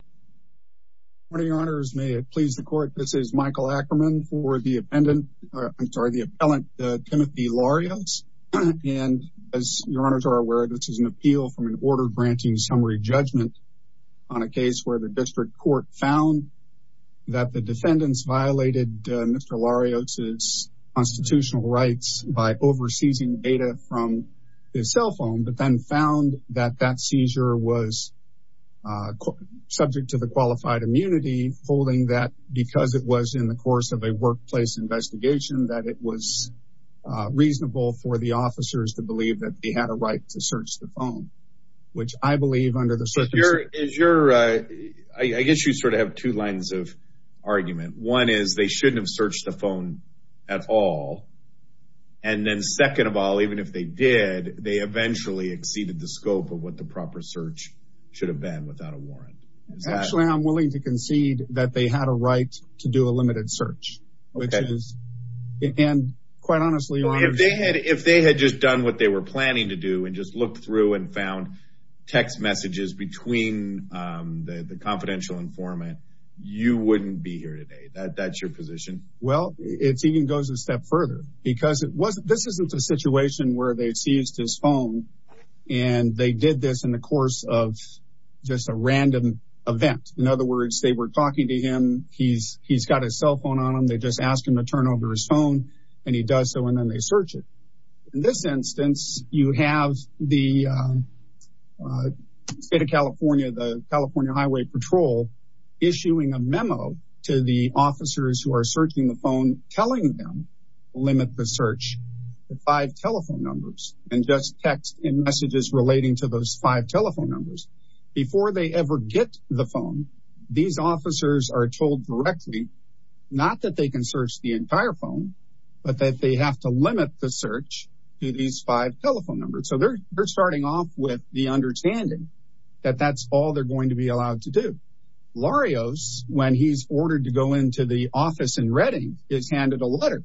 Good morning, your honors. May it please the court. This is Michael Ackerman for the appellant Timothy Larios. And as your honors are aware, this is an appeal from an order granting summary judgment on a case where the district court found that the defendants violated Mr. Larios' constitutional rights by overseizing data from his cell phone, but then found that that seizure was subject to the qualified immunity, folding that because it was in the course of a workplace investigation, that it was reasonable for the officers to believe that they had a right to search the phone, which I believe under the circuit is your I guess you sort of have two lines of argument. One is they shouldn't have searched the phone at all. And then second of all, even if they did, they eventually exceeded the scope of what the proper search should have been without a warrant. Actually, I'm willing to concede that they had a right to do a limited search, which is, and quite honestly, if they had if they had just done what they were planning to do and just look through and found text messages between the confidential informant, you wouldn't be here today that that's your position. Well, it's even goes a step further because it wasn't this isn't a situation where they seized his phone. And they did this in the course of just a random event. In other words, they were talking to him. He's he's got his cell phone on him. They just asked him to turn over his phone. And he does so and then they search it. In this instance, you have the state of California, the California Highway Patrol issuing a memo to the officers who are searching the phone telling them limit the search, the five telephone numbers and just text and messages relating to those five telephone numbers. Before they ever get the phone. These officers are told directly, not that they can search the entire phone, but that they have to limit the search to these five telephone numbers. So they're they're starting off with the understanding that that's all they're going to be allowed to do. Larios, when he's ordered to go into the office in a letter,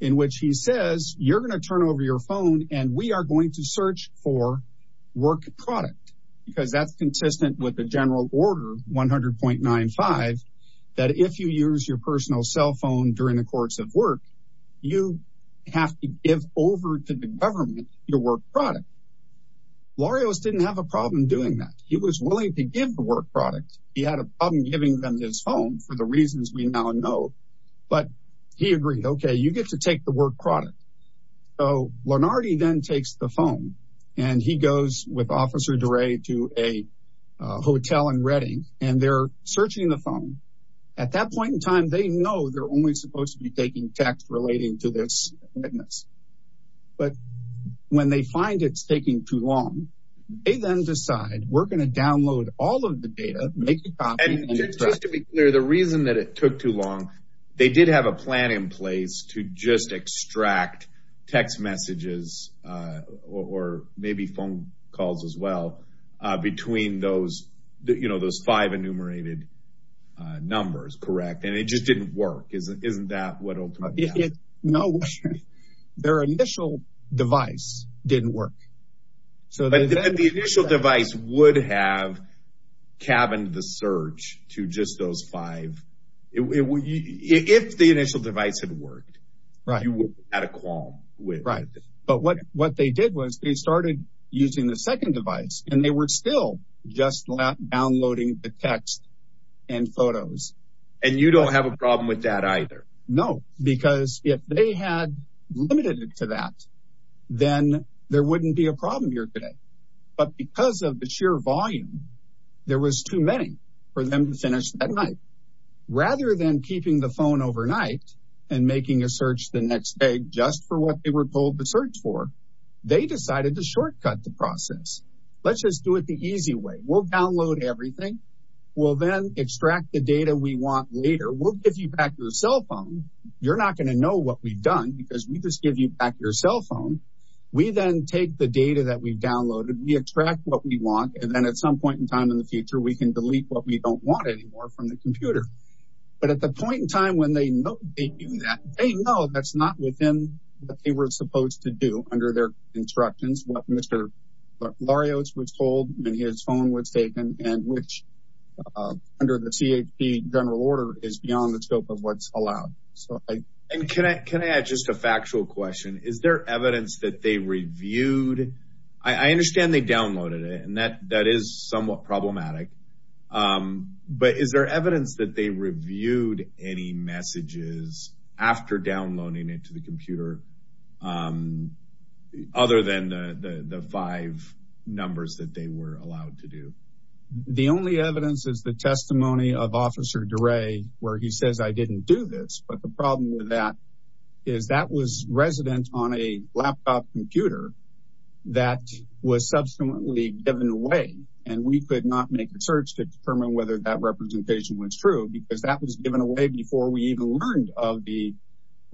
in which he says, you're going to turn over your phone and we are going to search for work product, because that's consistent with the general order 100.95. That if you use your personal cell phone during the course of work, you have to give over to the government your work product. Larios didn't have a problem doing that. He was willing to give the work product. He had a problem giving them his phone for the reasons we now know. But he agreed, okay, you get to take the work product. So Lennarty then takes the phone, and he goes with Officer DeRay to a hotel in Reading, and they're searching the phone. At that point in time, they know they're only supposed to be taking text relating to this witness. But when they find it's taking too long, they then decide we're going to download all of the data, and just to be clear, the reason that it took too long, they did have a plan in place to just extract text messages, or maybe phone calls as well, between those, you know, those five enumerated numbers, correct. And it just didn't work. Isn't that what ultimately happened? No, their initial device didn't work. So the initial device would have cabined the search to just those five. If the initial device had worked, you would have had a qualm. Right. But what they did was they started using the second device, and they were still just downloading the text and photos. And you don't have a problem with that either? No, because if they had limited it to that, then there wouldn't be a problem here today. But because of the sheer volume, there was too many for them to finish that night. Rather than keeping the phone overnight and making a search the next day just for what they were told to search for, they decided to shortcut the process. Let's just do it the easy way. We'll download everything. We'll then extract the data we want later. We'll give you back your cell phone. You're not going to know what we've done because we just give you back your cell phone. We then take the data that we've downloaded. We extract what we want. And then at some point in time in the future, we can delete what we don't want anymore from the computer. But at the point in time when they know that they know that's not within what they were supposed to do under their instructions, what Mr. Larios was told when his phone was taken and which under the CHP general order is beyond the scope of what's allowed. So can I add just a factual question? Is there evidence that they reviewed? I understand they downloaded it and that that is somewhat problematic. But is there evidence that they reviewed any messages after downloading it to the numbers that they were allowed to do? The only evidence is the testimony of Officer DeRay, where he says, I didn't do this. But the problem with that is that was resident on a laptop computer that was subsequently given away. And we could not make the search to determine whether that representation was true because that was given away before we even learned of the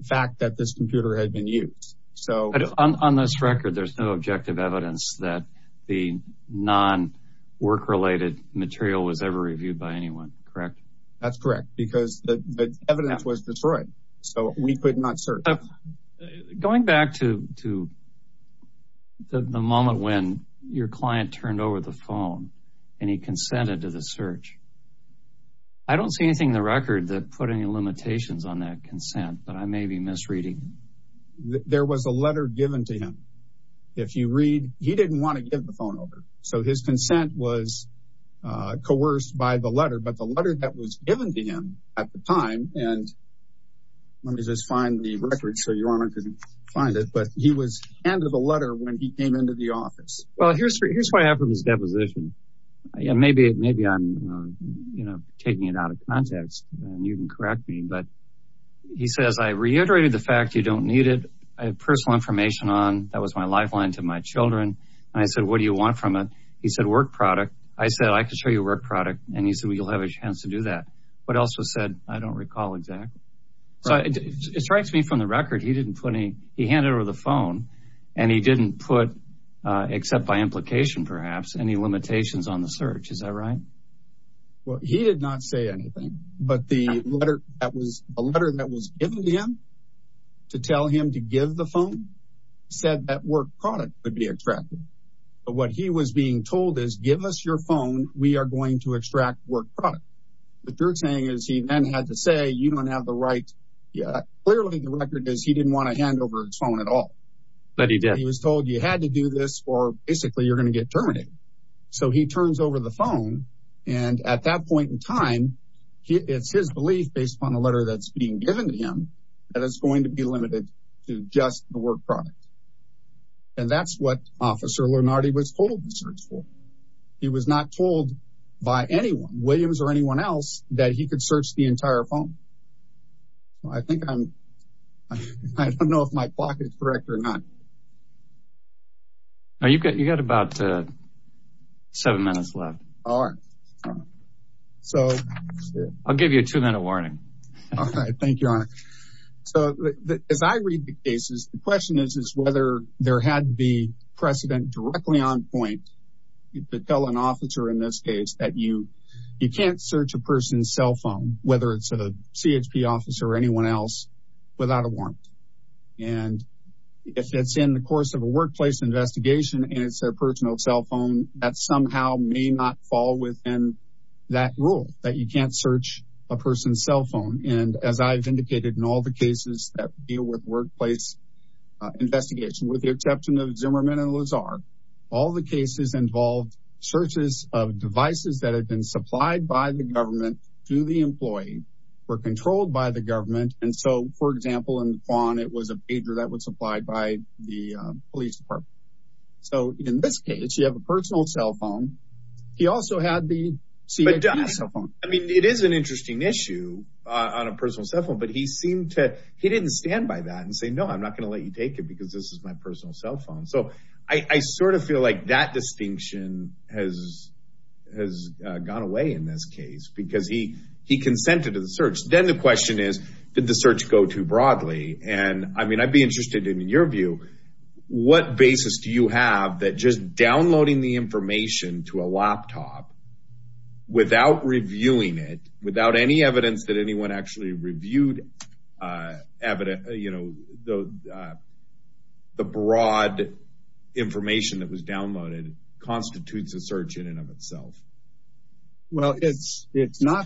fact that this computer had been used. So on this record, there's no objective evidence. That the non work related material was ever reviewed by anyone. Correct. That's correct, because the evidence was destroyed. So we could not search. Going back to to the moment when your client turned over the phone and he consented to the search. I don't see anything in the record that put any limitations on that consent, but I may be misreading. There was a letter given to him. If you read, he didn't want to give the phone over, so his consent was coerced by the letter, but the letter that was given to him at the time and. Let me just find the record so your honor could find it, but he was handed a letter when he came into the office. Well, here's here's what I have from his deposition. Maybe maybe I'm taking it out of context and you can correct me, but he says, I reiterated the fact you don't need it. I have personal information on that was my lifeline to my children and I said, what do you want from it? He said work product. I said, I could show you a work product and he said, well, you'll have a chance to do that. But also said, I don't recall exactly. So it strikes me from the record. He didn't put any. He handed over the phone and he didn't put, except by implication, perhaps any limitations on the search. Is that right? Well, he did not say anything, but the letter that was a letter that was given to him to tell him to give the phone said that work product would be extracted. But what he was being told is, give us your phone. We are going to extract work product. What you're saying is he then had to say, you don't have the right. Yeah, clearly the record is he didn't want to hand over his phone at all. But he was told you had to do this or basically you're going to get terminated. So he turns over the phone and at that point in time, it's his belief based on the letter that's being given to him that it's going to be limited to just the work product. And that's what Officer Lennarty was told to search for. He was not told by anyone, Williams or anyone else, that he could search the entire phone. Well, I think I'm I don't know if my clock is correct or not. Now, you've got you got about seven minutes left. All right. So I'll give you a two minute warning. All right. Thank you, Your Honor. So as I read the cases, the question is, is whether there had to be precedent directly on point. You could tell an officer in this case that you you can't search a person's cell phone, whether it's a CHP officer or anyone else, without a warrant. And if it's in the course of a workplace investigation and it's their personal cell phone, that somehow may not fall within that rule, that you can't search a person's cell phone. And as I've indicated in all the cases that deal with workplace investigation, with the exception of Zimmerman and Lazar, all the cases involved searches of devices that had been supplied by the government to the employee were controlled by the government. And so, for example, in Vaughan, it was a pager that was supplied by the police department. So in this case, you have a personal cell phone. He also had the CHP cell phone. I mean, it is an interesting issue on a personal cell phone, but he seemed to he didn't stand by that and say, no, I'm not going to let you take it because this is my personal cell phone. So I sort of feel like that distinction has has gone away in this case because he he consented to the search. Then the question is, did the search go too broadly? And I mean, I'd be interested in your view. What basis do you have that just downloading the information to a laptop without reviewing it, without any evidence that anyone actually reviewed evidence, you know, the broad information that was downloaded constitutes a search in and of itself? Well, it's it's not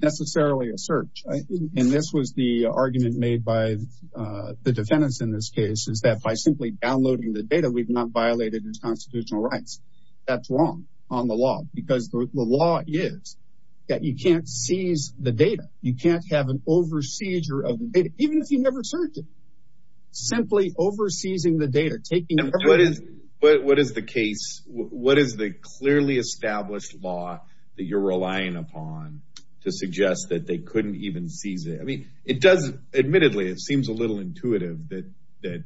necessarily a search. And this was the argument made by the defendants in this case is that by simply downloading the data, we've not violated its constitutional rights. That's wrong on the law, because the law is that you can't seize the data. You can't have an overseer of it, even if you never search it. Simply overseeing the data, taking what is what is the case, what is the clearly established law that you're even seize it? I mean, it does. Admittedly, it seems a little intuitive that that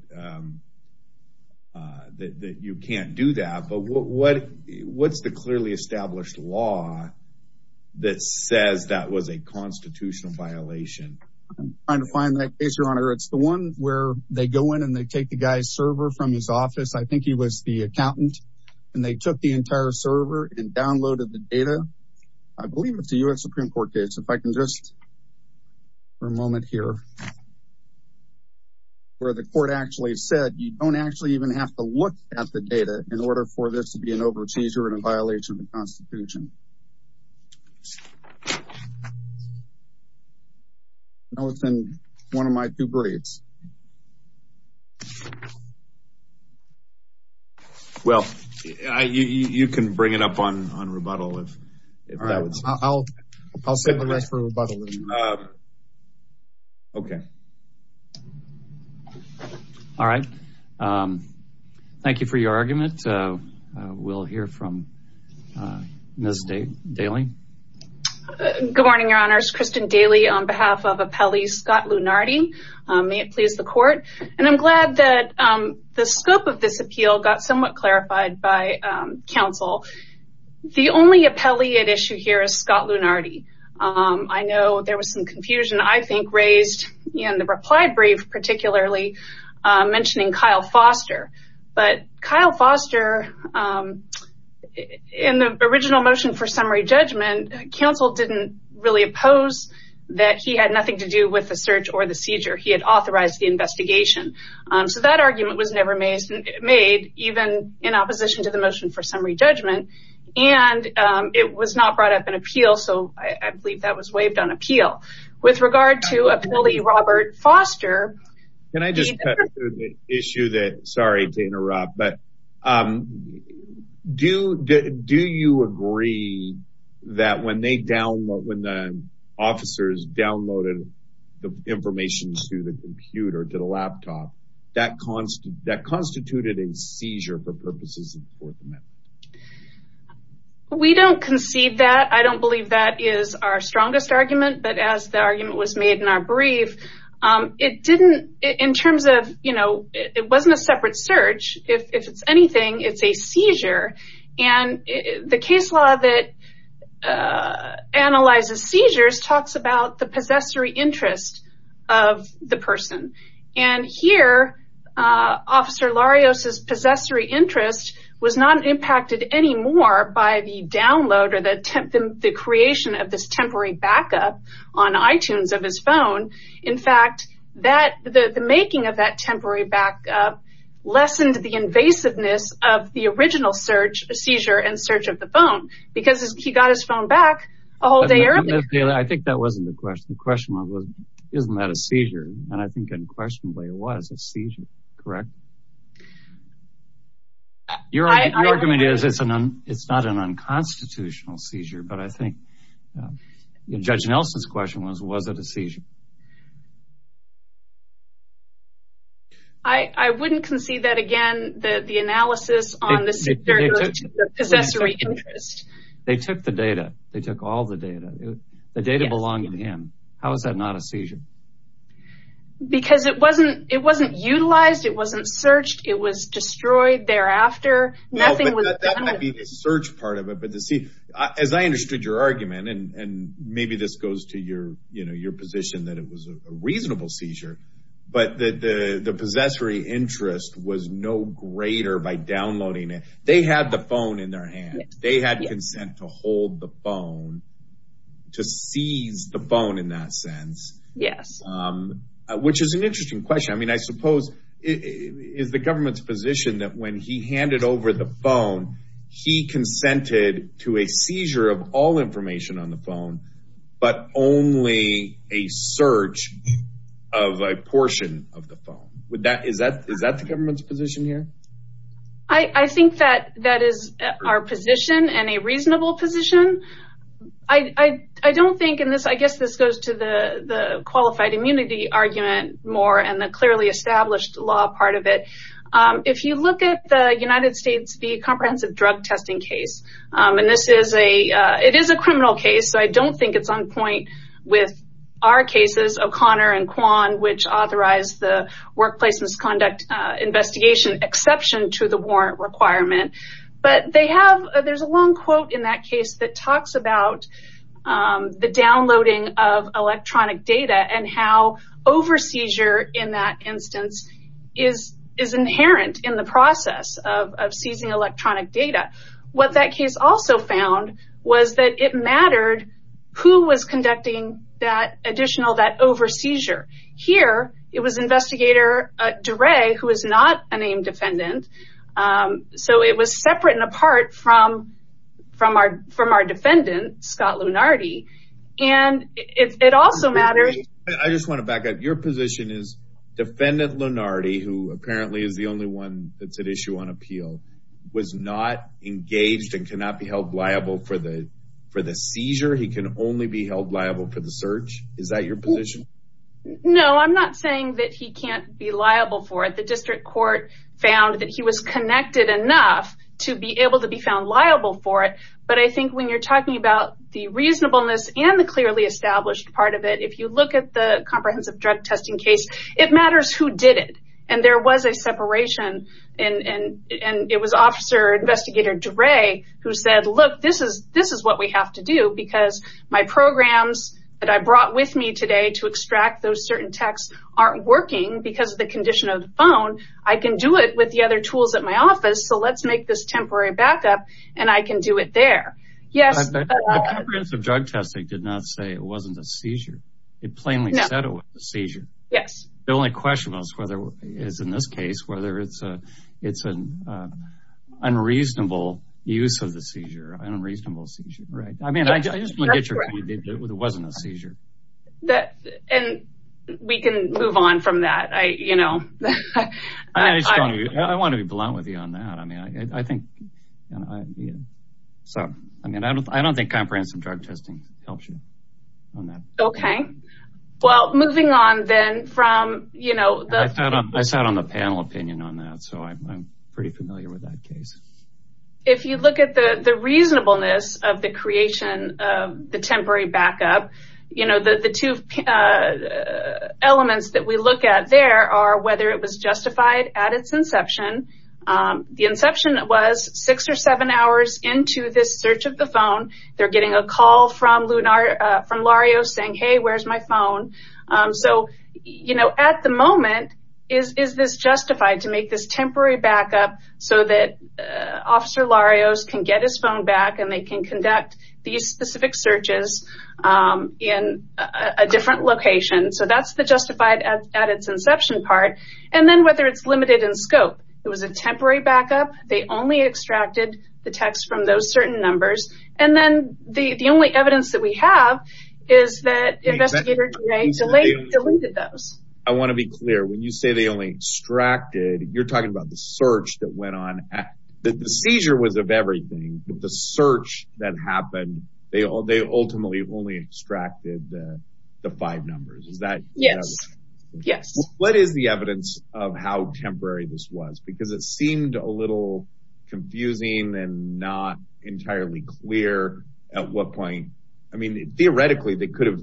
that you can't do that. But what what's the clearly established law that says that was a constitutional violation? I'm trying to find that case, your honor. It's the one where they go in and they take the guy's server from his office. I think he was the accountant and they took the entire server and downloaded the data. I believe it's a U.S. Supreme Court case, if I can just for a moment here. Where the court actually said, you don't actually even have to look at the data in order for this to be an overseer and a violation of the Constitution. That was in one of my two braids. Well, you can bring it up on on rebuttal, if I'll I'll say the rest for a rebuttal. OK. All right, thank you for your argument. We'll hear from Ms. Daly. Good morning, your honors. Kristen Daly, on behalf of Appellee Scott Lunardi, may it please be my pleasure to introduce you to our appellee, please, the court. And I'm glad that the scope of this appeal got somewhat clarified by counsel. The only appellee at issue here is Scott Lunardi. I know there was some confusion, I think, raised in the reply brief, particularly mentioning Kyle Foster. But Kyle Foster, in the original motion for summary judgment, counsel didn't really oppose that he had nothing to do with the search or the seizure. He had authorized the investigation. So that argument was never made, even in opposition to the motion for summary judgment. And it was not brought up in appeal. So I believe that was waived on appeal. With regard to Appellee Robert Foster. Can I just cut to the issue that, sorry to interrupt, but do you agree that when they download, when the officers downloaded the information to the computer, to the laptop, that constituted a seizure for purposes of the Fourth Amendment? We don't concede that. I don't believe that is our strongest argument. But as the argument was made in our brief, it didn't, in terms of, you know, it wasn't a separate search. And the case law that analyzes seizures talks about the possessory interest of the person. And here, Officer Larios' possessory interest was not impacted anymore by the download or the creation of this temporary backup on iTunes of his phone. In fact, the making of that temporary backup lessened the invasiveness of the original search, seizure, and search of the phone because he got his phone back a whole day earlier. I think that wasn't the question. The question was, isn't that a seizure? And I think unquestionably it was a seizure, correct? Your argument is it's not an unconstitutional seizure. But I think Judge Nelson's question was, was it a seizure? I wouldn't concede that, again, that the analysis on the seizure goes to the possessory interest. They took the data. They took all the data. The data belonged to him. How is that not a seizure? Because it wasn't, it wasn't utilized. It wasn't searched. It was destroyed thereafter. Nothing was done with it. That might be the search part of it. As I understood your argument, and maybe this goes to your, you know, your position that it was a reasonable seizure, but that the possessory interest was no greater by downloading it. They had the phone in their hand. They had consent to hold the phone, to seize the phone in that sense. Yes. Which is an interesting question. I mean, I suppose it is the government's position that when he handed over the phone, he consented to a seizure of all information on the phone, but only a search of a portion of the phone. Would that, is that, is that the government's position here? I think that that is our position and a reasonable position. I don't think in this, I guess this goes to the qualified immunity argument more and the clearly established law part of it. If you look at the United States, the comprehensive drug testing case, and this is a, it is a criminal case, so I don't think it's on point with our cases, O'Connor and Kwan, which authorized the workplace misconduct investigation exception to the warrant requirement. But they have, there's a long quote in that case that talks about the downloading of electronic data and how over-seizure in that instance is inherent in the process of seizing electronic data. What that case also found was that it mattered who was conducting that additional, that over-seizure. Here, it was investigator DeRay, who is not a named defendant. So it was separate and apart from, from our, from our defendant, Scott Lunardi. And it also matters. I just want to back up. Your position is defendant Lunardi, who apparently is the only one that's at issue on appeal, was not engaged and cannot be held liable for the, for the seizure. He can only be held liable for the search. Is that your position? No, I'm not saying that he can't be liable for it. The district court found that he was connected enough to be able to be found liable for it. But I think when you're talking about the reasonableness and the clearly established part of it, if you look at the comprehensive drug testing case, it matters who did it. And there was a separation and, and, and it was officer investigator DeRay who said, look, this is, this is what we have to do. Because my programs that I brought with me today to extract those certain texts aren't working because of the condition of the phone. I can do it with the other tools at my office. So let's make this temporary backup and I can do it there. Yes. The comprehensive drug testing did not say it wasn't a seizure. It plainly said it was a seizure. Yes. The only question was whether, is in this case, whether it's a, it's an unreasonable use of the seizure, an unreasonable seizure, right? I mean, I just want to get your opinion that it wasn't a seizure. That, and we can move on from that. I, you know, I want to be blunt with you on that. I mean, I think, so, I mean, I don't, I don't think comprehensive drug testing helps you on that. Okay. Well, moving on then from, you know, I sat on the panel opinion on that. So I'm pretty familiar with that case. If you look at the reasonableness of the creation of the temporary backup, you know, the two elements that we look at there are whether it was justified at its inception. The inception was six or seven hours into this search of the phone. They're getting a call from Lunar, from Lario saying, hey, where's my phone? So, you know, at the moment, is this justified to make this temporary backup so that Officer Larios can get his phone back and they can conduct these specific searches in a different location? So that's the justified at its inception part. And then whether it's limited in scope. It was a temporary backup. They only extracted the text from those certain numbers. And then the only evidence that we have is that investigators deleted those. I want to be clear. When you say they only extracted, you're talking about the search that went on. The seizure was of everything, but the search that happened, they ultimately only extracted the five numbers. Is that? Yes. Yes. What is the evidence of how temporary this was? Because it seemed a little confusing and not entirely clear at what point. I mean, theoretically, they could have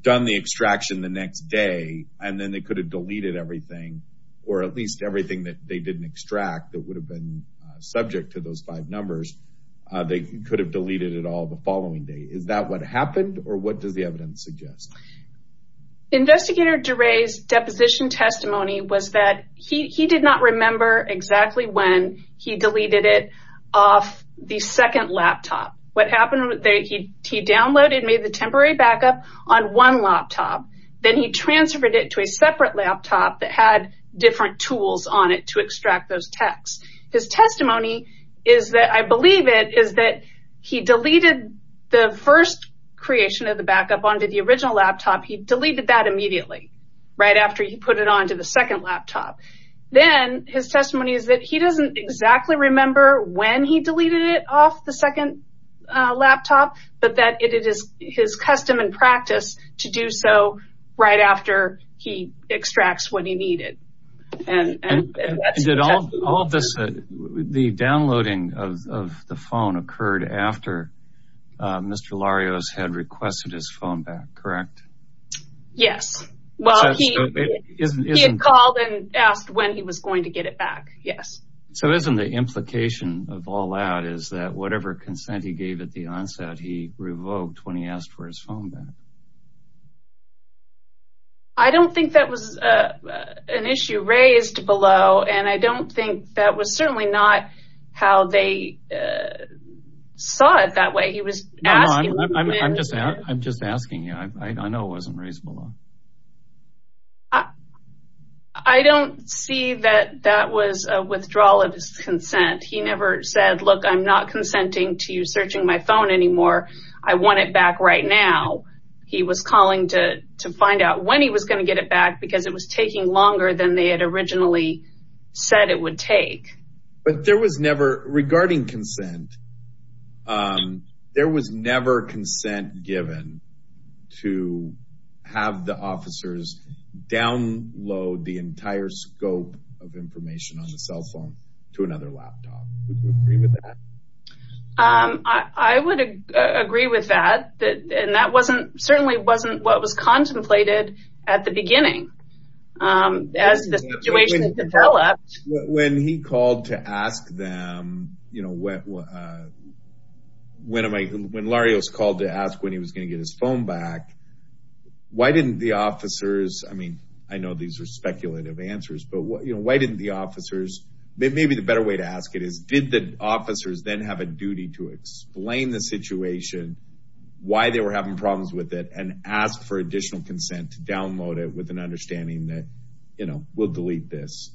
done the extraction the next day and then they could have deleted everything or at least everything that they didn't extract that would have been subject to those five numbers. They could have deleted it all the following day. Is that what happened or what does the evidence suggest? Investigator DeRay's deposition testimony was that he did not remember exactly when he deleted it off the second laptop. What happened was that he downloaded and made the temporary backup on one laptop. Then he transferred it to a separate laptop that had different tools on it to extract those texts. His testimony is that I believe it is that he deleted the first creation of the backup onto the original laptop. He deleted that immediately right after he put it onto the second laptop. Then his testimony is that he doesn't exactly remember when he deleted it off the second laptop, but that it is his custom and practice to do so right after he extracts what he needed. And did all of this, the downloading of the phone occurred after Mr. Larios had requested his phone back, correct? Yes, well, he called and asked when he was going to get it back. Yes. So isn't the implication of all that is that whatever consent he gave at the onset, he revoked when he asked for his phone back? I don't think that was an issue raised below, and I don't think that was certainly not how they saw it that way. He was asking. I'm just I'm just asking you. I know it wasn't reasonable. I don't see that that was a withdrawal of his consent. He never said, look, I'm not consenting to you searching my phone anymore. I want it back right now. He was calling to to find out when he was going to get it back because it was taking longer than they had originally said it would take. But there was never regarding consent. There was never consent given to have the officers download the entire scope of information on the cell phone to another laptop. Would you agree with that? I would agree with that. And that wasn't certainly wasn't what was contemplated at the beginning as the situation developed. When he called to ask them, you know, when I when Larry was called to ask when he was going to get his phone back, why didn't the officers? I mean, I know these are speculative answers, but why didn't the officers? Maybe the better way to ask it is, did the officers then have a duty to explain the situation, why they were having problems with it and ask for additional consent to download it with an understanding that, you know, we'll delete this?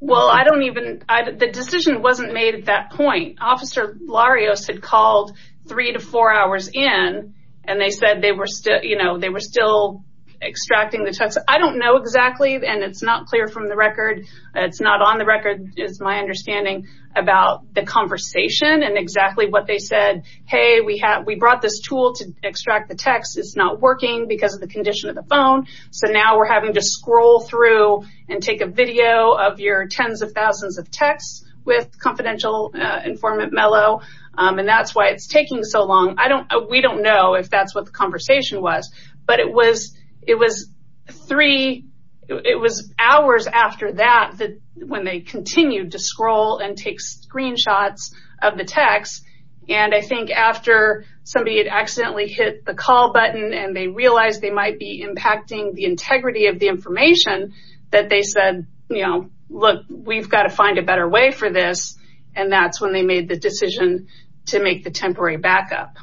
Well, I don't even the decision wasn't made at that point. Officer Larios had called three to four hours in and they said they were still you know, they were still extracting the text. I don't know exactly. And it's not clear from the record. It's not on the record is my understanding about the conversation and exactly what they said. Hey, we have we brought this tool to extract the text. It's not working because of the condition of the phone. So now we're having to scroll through and take a video of your tens of thousands of texts with confidential informant Mello. And that's why it's taking so long. I don't we don't know if that's what the conversation was. But it was it was three it was hours after that, that when they continued to scroll and take screenshots of the text. And I think after somebody had accidentally hit the call button and they realized they might be impacting the integrity of the information that they said, you know, look, we've got to find a better way for this. And that's when they made the decision to make the temporary backup.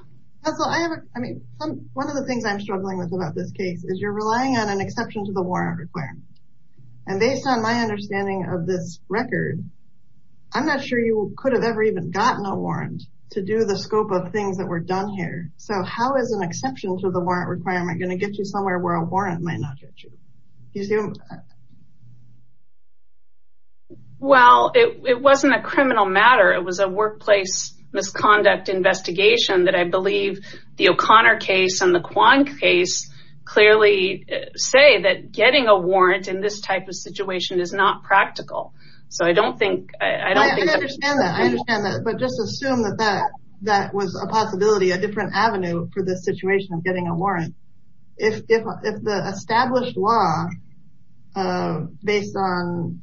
So I mean, one of the things I'm struggling with about this case is you're relying on an exception to the warrant requirement. And based on my understanding of this record, I'm not sure you could have ever even gotten a warrant to do the scope of things that were done here. So how is an exception to the warrant requirement going to get you somewhere where a warrant might not get you? Well, it wasn't a criminal matter, it was a workplace misconduct investigation that I believe the O'Connor case and the Kwan case clearly say that getting a warrant in this type of situation is not practical. So I don't think I don't understand that, but just assume that that that was a possibility, a different avenue for the situation of getting a warrant. If the established law based on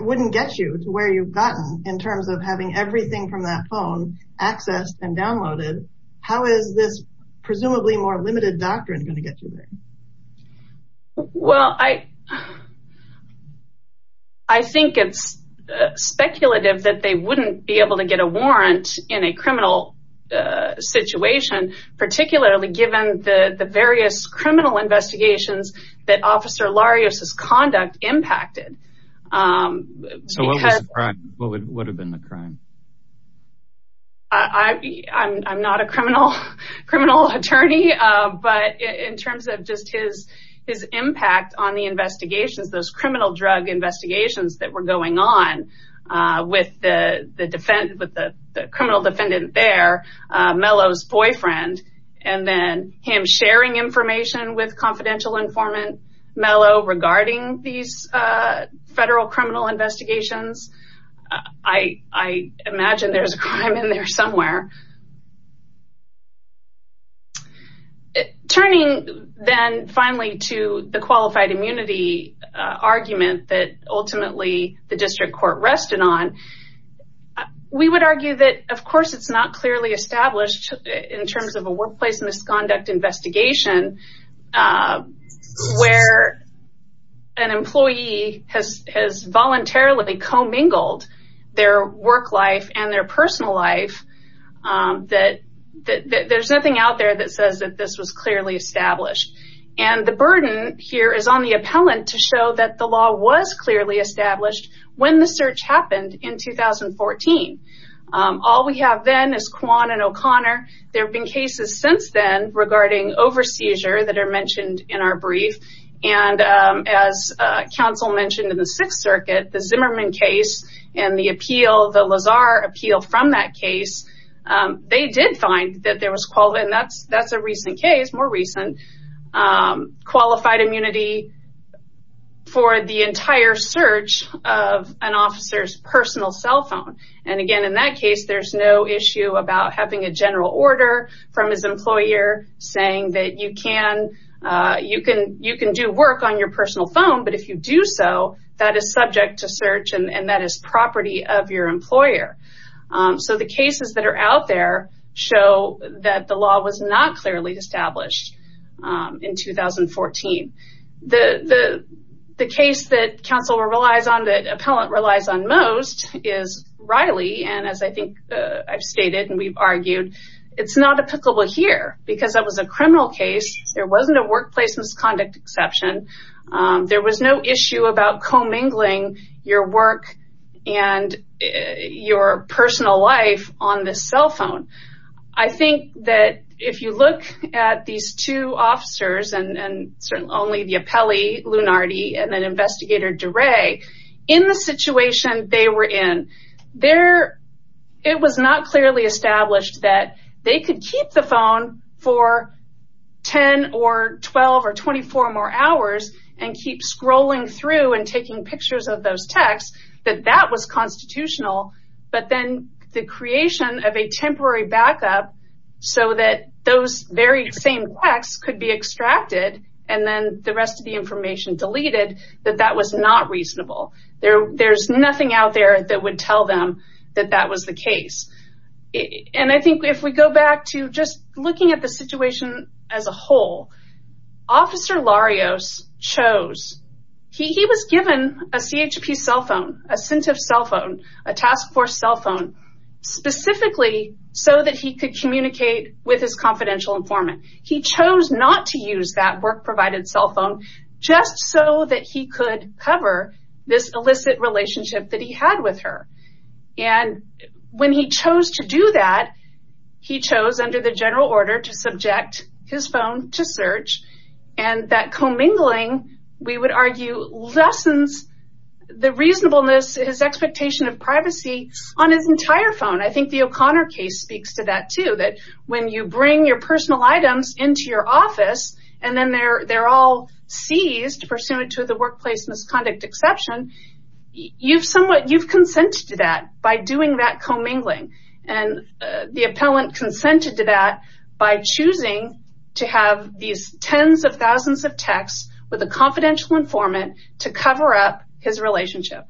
wouldn't get you to where you've gotten in terms of having everything from that phone accessed and downloaded, how is this presumably more limited doctrine going to get you there? Well, I think it's speculative that they wouldn't be able to get a warrant in a criminal situation, particularly given the various criminal investigations that Officer Larios' conduct impacted. So what was the crime? What would have been the crime? I'm not a criminal attorney, but in terms of just his impact on the investigations, those criminal drug investigations that were going on with the criminal defendant there, Mello's boyfriend, and then him sharing information with confidential informant Mello regarding these federal criminal investigations. I imagine there's a crime in there somewhere. Turning then finally to the qualified immunity argument that ultimately the district court rested on, we would argue that, of course, it's not clearly established in terms of a workplace misconduct investigation where an employee has has voluntarily co-mingled their work life and their personal life. There's nothing out there that says that this was clearly established, and the burden here is on the appellant to show that the law was clearly established when the search happened in 2014. All we have then is Quan and O'Connor. There have been cases since then regarding over-seizure that are mentioned in our brief, and as counsel mentioned in the Sixth Circuit, the Zimmerman case and the appeal, the Lazar appeal from that case, they did find that there was, and that's a recent case, more recent, qualified immunity for the entire search of an officer's personal cell phone. Again, in that case, there's no issue about having a general order from his employer saying that you can do work on your personal phone, but if you do so, that is subject to search, and that is property of your employer. The cases that are out there show that the law was not clearly established in 2014. The case that counsel relies on, that appellant relies on most, is Riley, and as I think I've stated and we've argued, it's not applicable here because that was a criminal case. There wasn't a workplace misconduct exception. There was no issue about co-mingling your work and your personal life on the cell phone. I think that if you look at these two officers, and certainly only the appellee, Lunardi, and then investigator DeRay, in the situation they were in, it was not clearly established that they could keep the phone for 10 or 12 or 24 more hours and keep scrolling through and taking pictures of those texts, that that was constitutional, but then the creation of a temporary backup so that those very same texts could be extracted and then the rest of the information deleted, that that was not reasonable. There's nothing out there that would tell them that that was the case. I think if we go back to just looking at the situation as a whole, Officer Larios chose, he was given a CHP cell phone, a CINTIF cell phone, a task force cell phone, specifically so that he could communicate with his confidential informant. He chose not to use that work-provided cell phone just so that he could cover this illicit relationship that he had with her. When he chose to do that, he chose under the general order to subject his phone to search, and that commingling, we would argue, lessens the reasonableness, his expectation of privacy on his entire phone. I think the O'Connor case speaks to that, too, that when you bring your personal items into your office and then they're all seized pursuant to the workplace misconduct exception, you've consented to that by doing that commingling. The appellant consented to that by choosing to have these tens of thousands of texts with a confidential informant to cover up his relationship.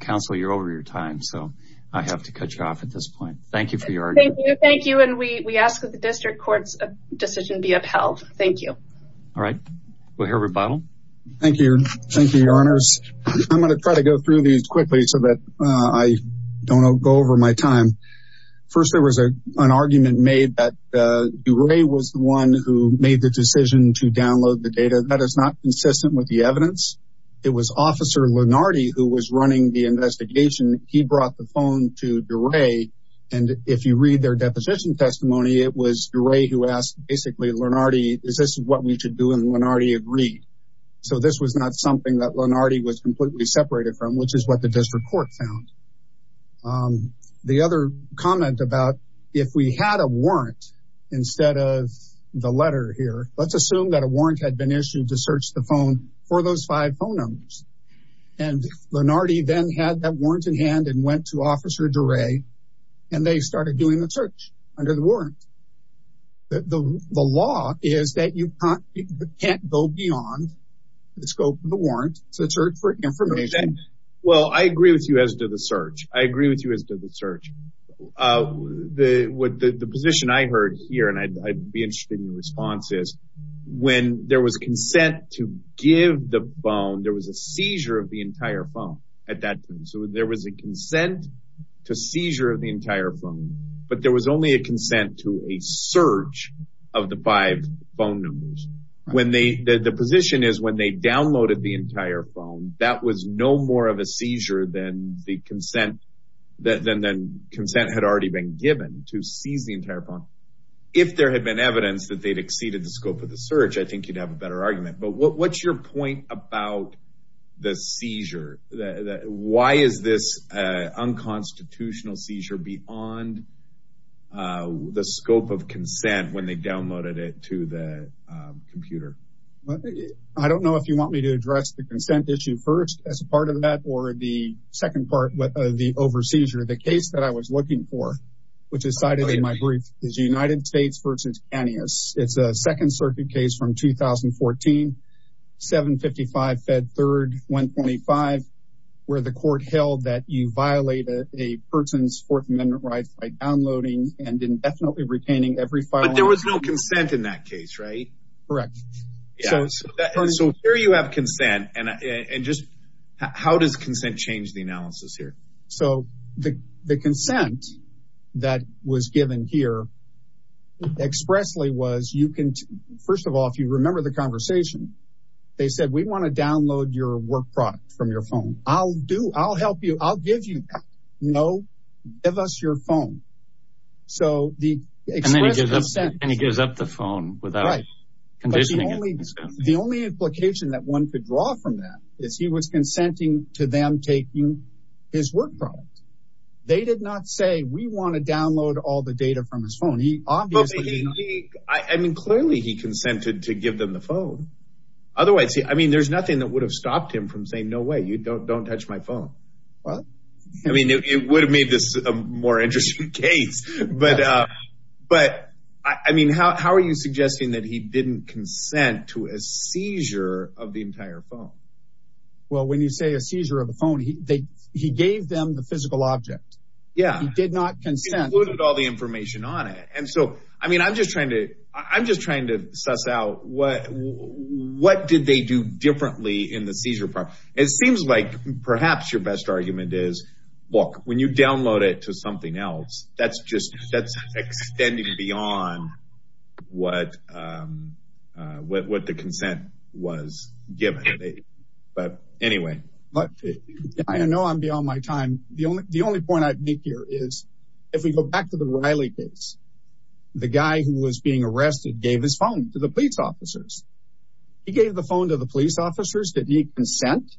Counsel, you're over your time, so I have to cut you off at this point. Thank you for your argument. Thank you. And we ask that the district court's decision be upheld. Thank you. All right. We'll hear rebuttal. Thank you. Thank you, Your Honors. I'm going to try to go through these quickly so that I don't go over my time. First, there was an argument made that DeRay was the one who made the decision to download the data. That is not consistent with the evidence. It was Officer Lenardi who was running the investigation. He brought the phone to DeRay. And if you read their deposition testimony, it was DeRay who asked, basically, Lenardi, is this what we should do? And Lenardi agreed. So this was not something that Lenardi was completely separated from, which is what the district court found. The other comment about if we had a warrant instead of the letter here, let's assume that a warrant had been issued to search the phone for those five phone numbers. And Lenardi then had that warrant in hand and went to Officer DeRay, and they started doing the search under the warrant. The law is that you can't go beyond the scope of the warrant to search for information. Well, I agree with you as to the search. I agree with you as to the search. The position I heard here, and I'd be interested in your response, is when there was consent to give the phone, there was a seizure of the entire phone at that time. So there was a consent to seizure of the entire phone, but there was only a consent to a search of the five phone numbers. The position is when they downloaded the entire phone, that was no more of a seizure than the consent had already been given to seize the entire phone. If there had been evidence that they'd exceeded the scope of the search, I think you'd have a better argument. But what's your point about the seizure? Why is this unconstitutional seizure beyond the scope of consent when they downloaded it to the computer? I don't know if you want me to address the consent issue first as part of that or the second part of the over seizure. The case that I was looking for, which is cited in my brief, is United States v. Canius. It's a Second Circuit case from 2014, 755 Fed 3rd 125, where the court held that you violated a person's Fourth Amendment rights by downloading and indefinitely retaining every file. But there was no consent in that case, right? Correct. So here you have consent. And just how does consent change the analysis here? So the consent that was given here expressly was, first of all, if you remember the conversation, they said, we want to download your work product from your phone. I'll help you. I'll give you that. No, give us your phone. And then he gives up the phone without conditioning it. The only implication that one could draw from that is he was consenting to them taking his work product. They did not say, we want to download all the data from his phone. I mean, clearly he consented to give them the phone. Otherwise, I mean, there's nothing that would have stopped him from saying, no way, you don't touch my phone. Well, I mean, it would have made this a more interesting case. But I mean, how are you suggesting that he didn't consent to a seizure of the entire phone? Well, when you say a seizure of the phone, he gave them the physical object. Yeah. He did not consent. He included all the information on it. And so, I mean, I'm just trying to suss out what did they do differently in the seizure. It seems like perhaps your best argument is, look, when you download it to something else, that's just that's extending beyond what the consent was given. But anyway. I know I'm beyond my time. The only point I'd make here is if we go back to the Riley case, the guy who was being arrested gave his phone to the police officers. He gave the phone to the police officers that need consent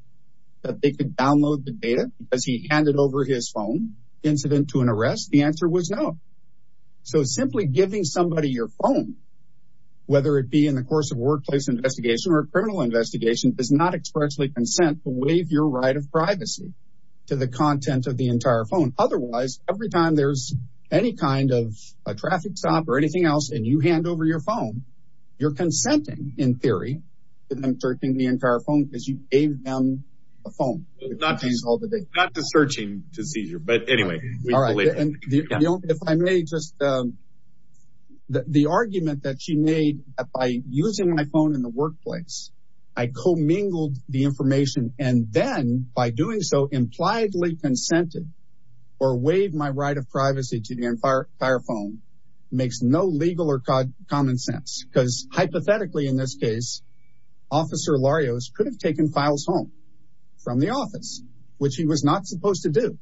that they could download the data because he handed over his phone incident to an arrest. The answer was no. So simply giving somebody your phone, whether it be in the course of workplace investigation or criminal investigation, does not expressly consent to waive your right of privacy to the content of the entire phone. Otherwise, every time there's any kind of a traffic stop or anything else and you hand over your phone, you're consenting, in theory, to them searching the entire phone because you gave them a phone. Not to searching the seizure. But anyway. If I may just the argument that she made by using my phone in the workplace, I commingled the information and then by doing so, impliedly consented or waive my right of privacy to the entire phone makes no legal or common sense because hypothetically, in this case, Officer Larios could have taken files home from the office, which he was not supposed to do.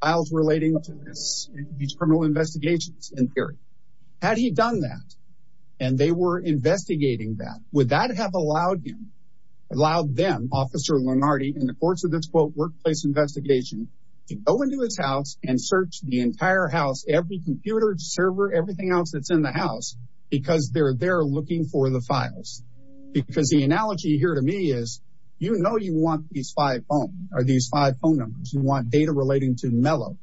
Files relating to these criminal investigations, in theory. Had he done that and they were investigating that, would that have allowed him, allowed them, Officer Lenardi, in the course of this quote workplace investigation, to go into his house and search the entire house, every computer, server, everything else that's in the house because they're there looking for the files. Because the analogy here to me is, you know, you want these five phone numbers. You want data relating to Mello.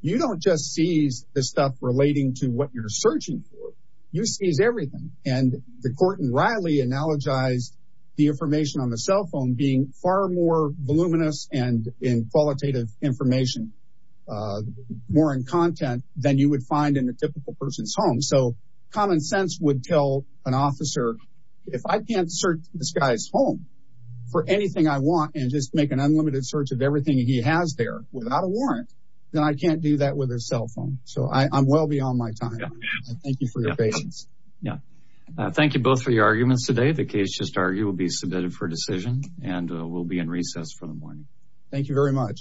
You don't just seize the stuff relating to what you're searching for. You seize everything. And the court in Riley analogized the information on the cell phone being far more voluminous and in qualitative information, more in content than you would find in a typical person's home. So common sense would tell an officer, if I can't search this guy's home for anything I want and just make an unlimited search of everything he has there without a warrant, then I can't do that with a cell phone. So I'm well beyond my time. Thank you for your patience. Yeah. Thank you both for your arguments today. The case just argued will be submitted for decision and will be in recess for the morning. Thank you very much.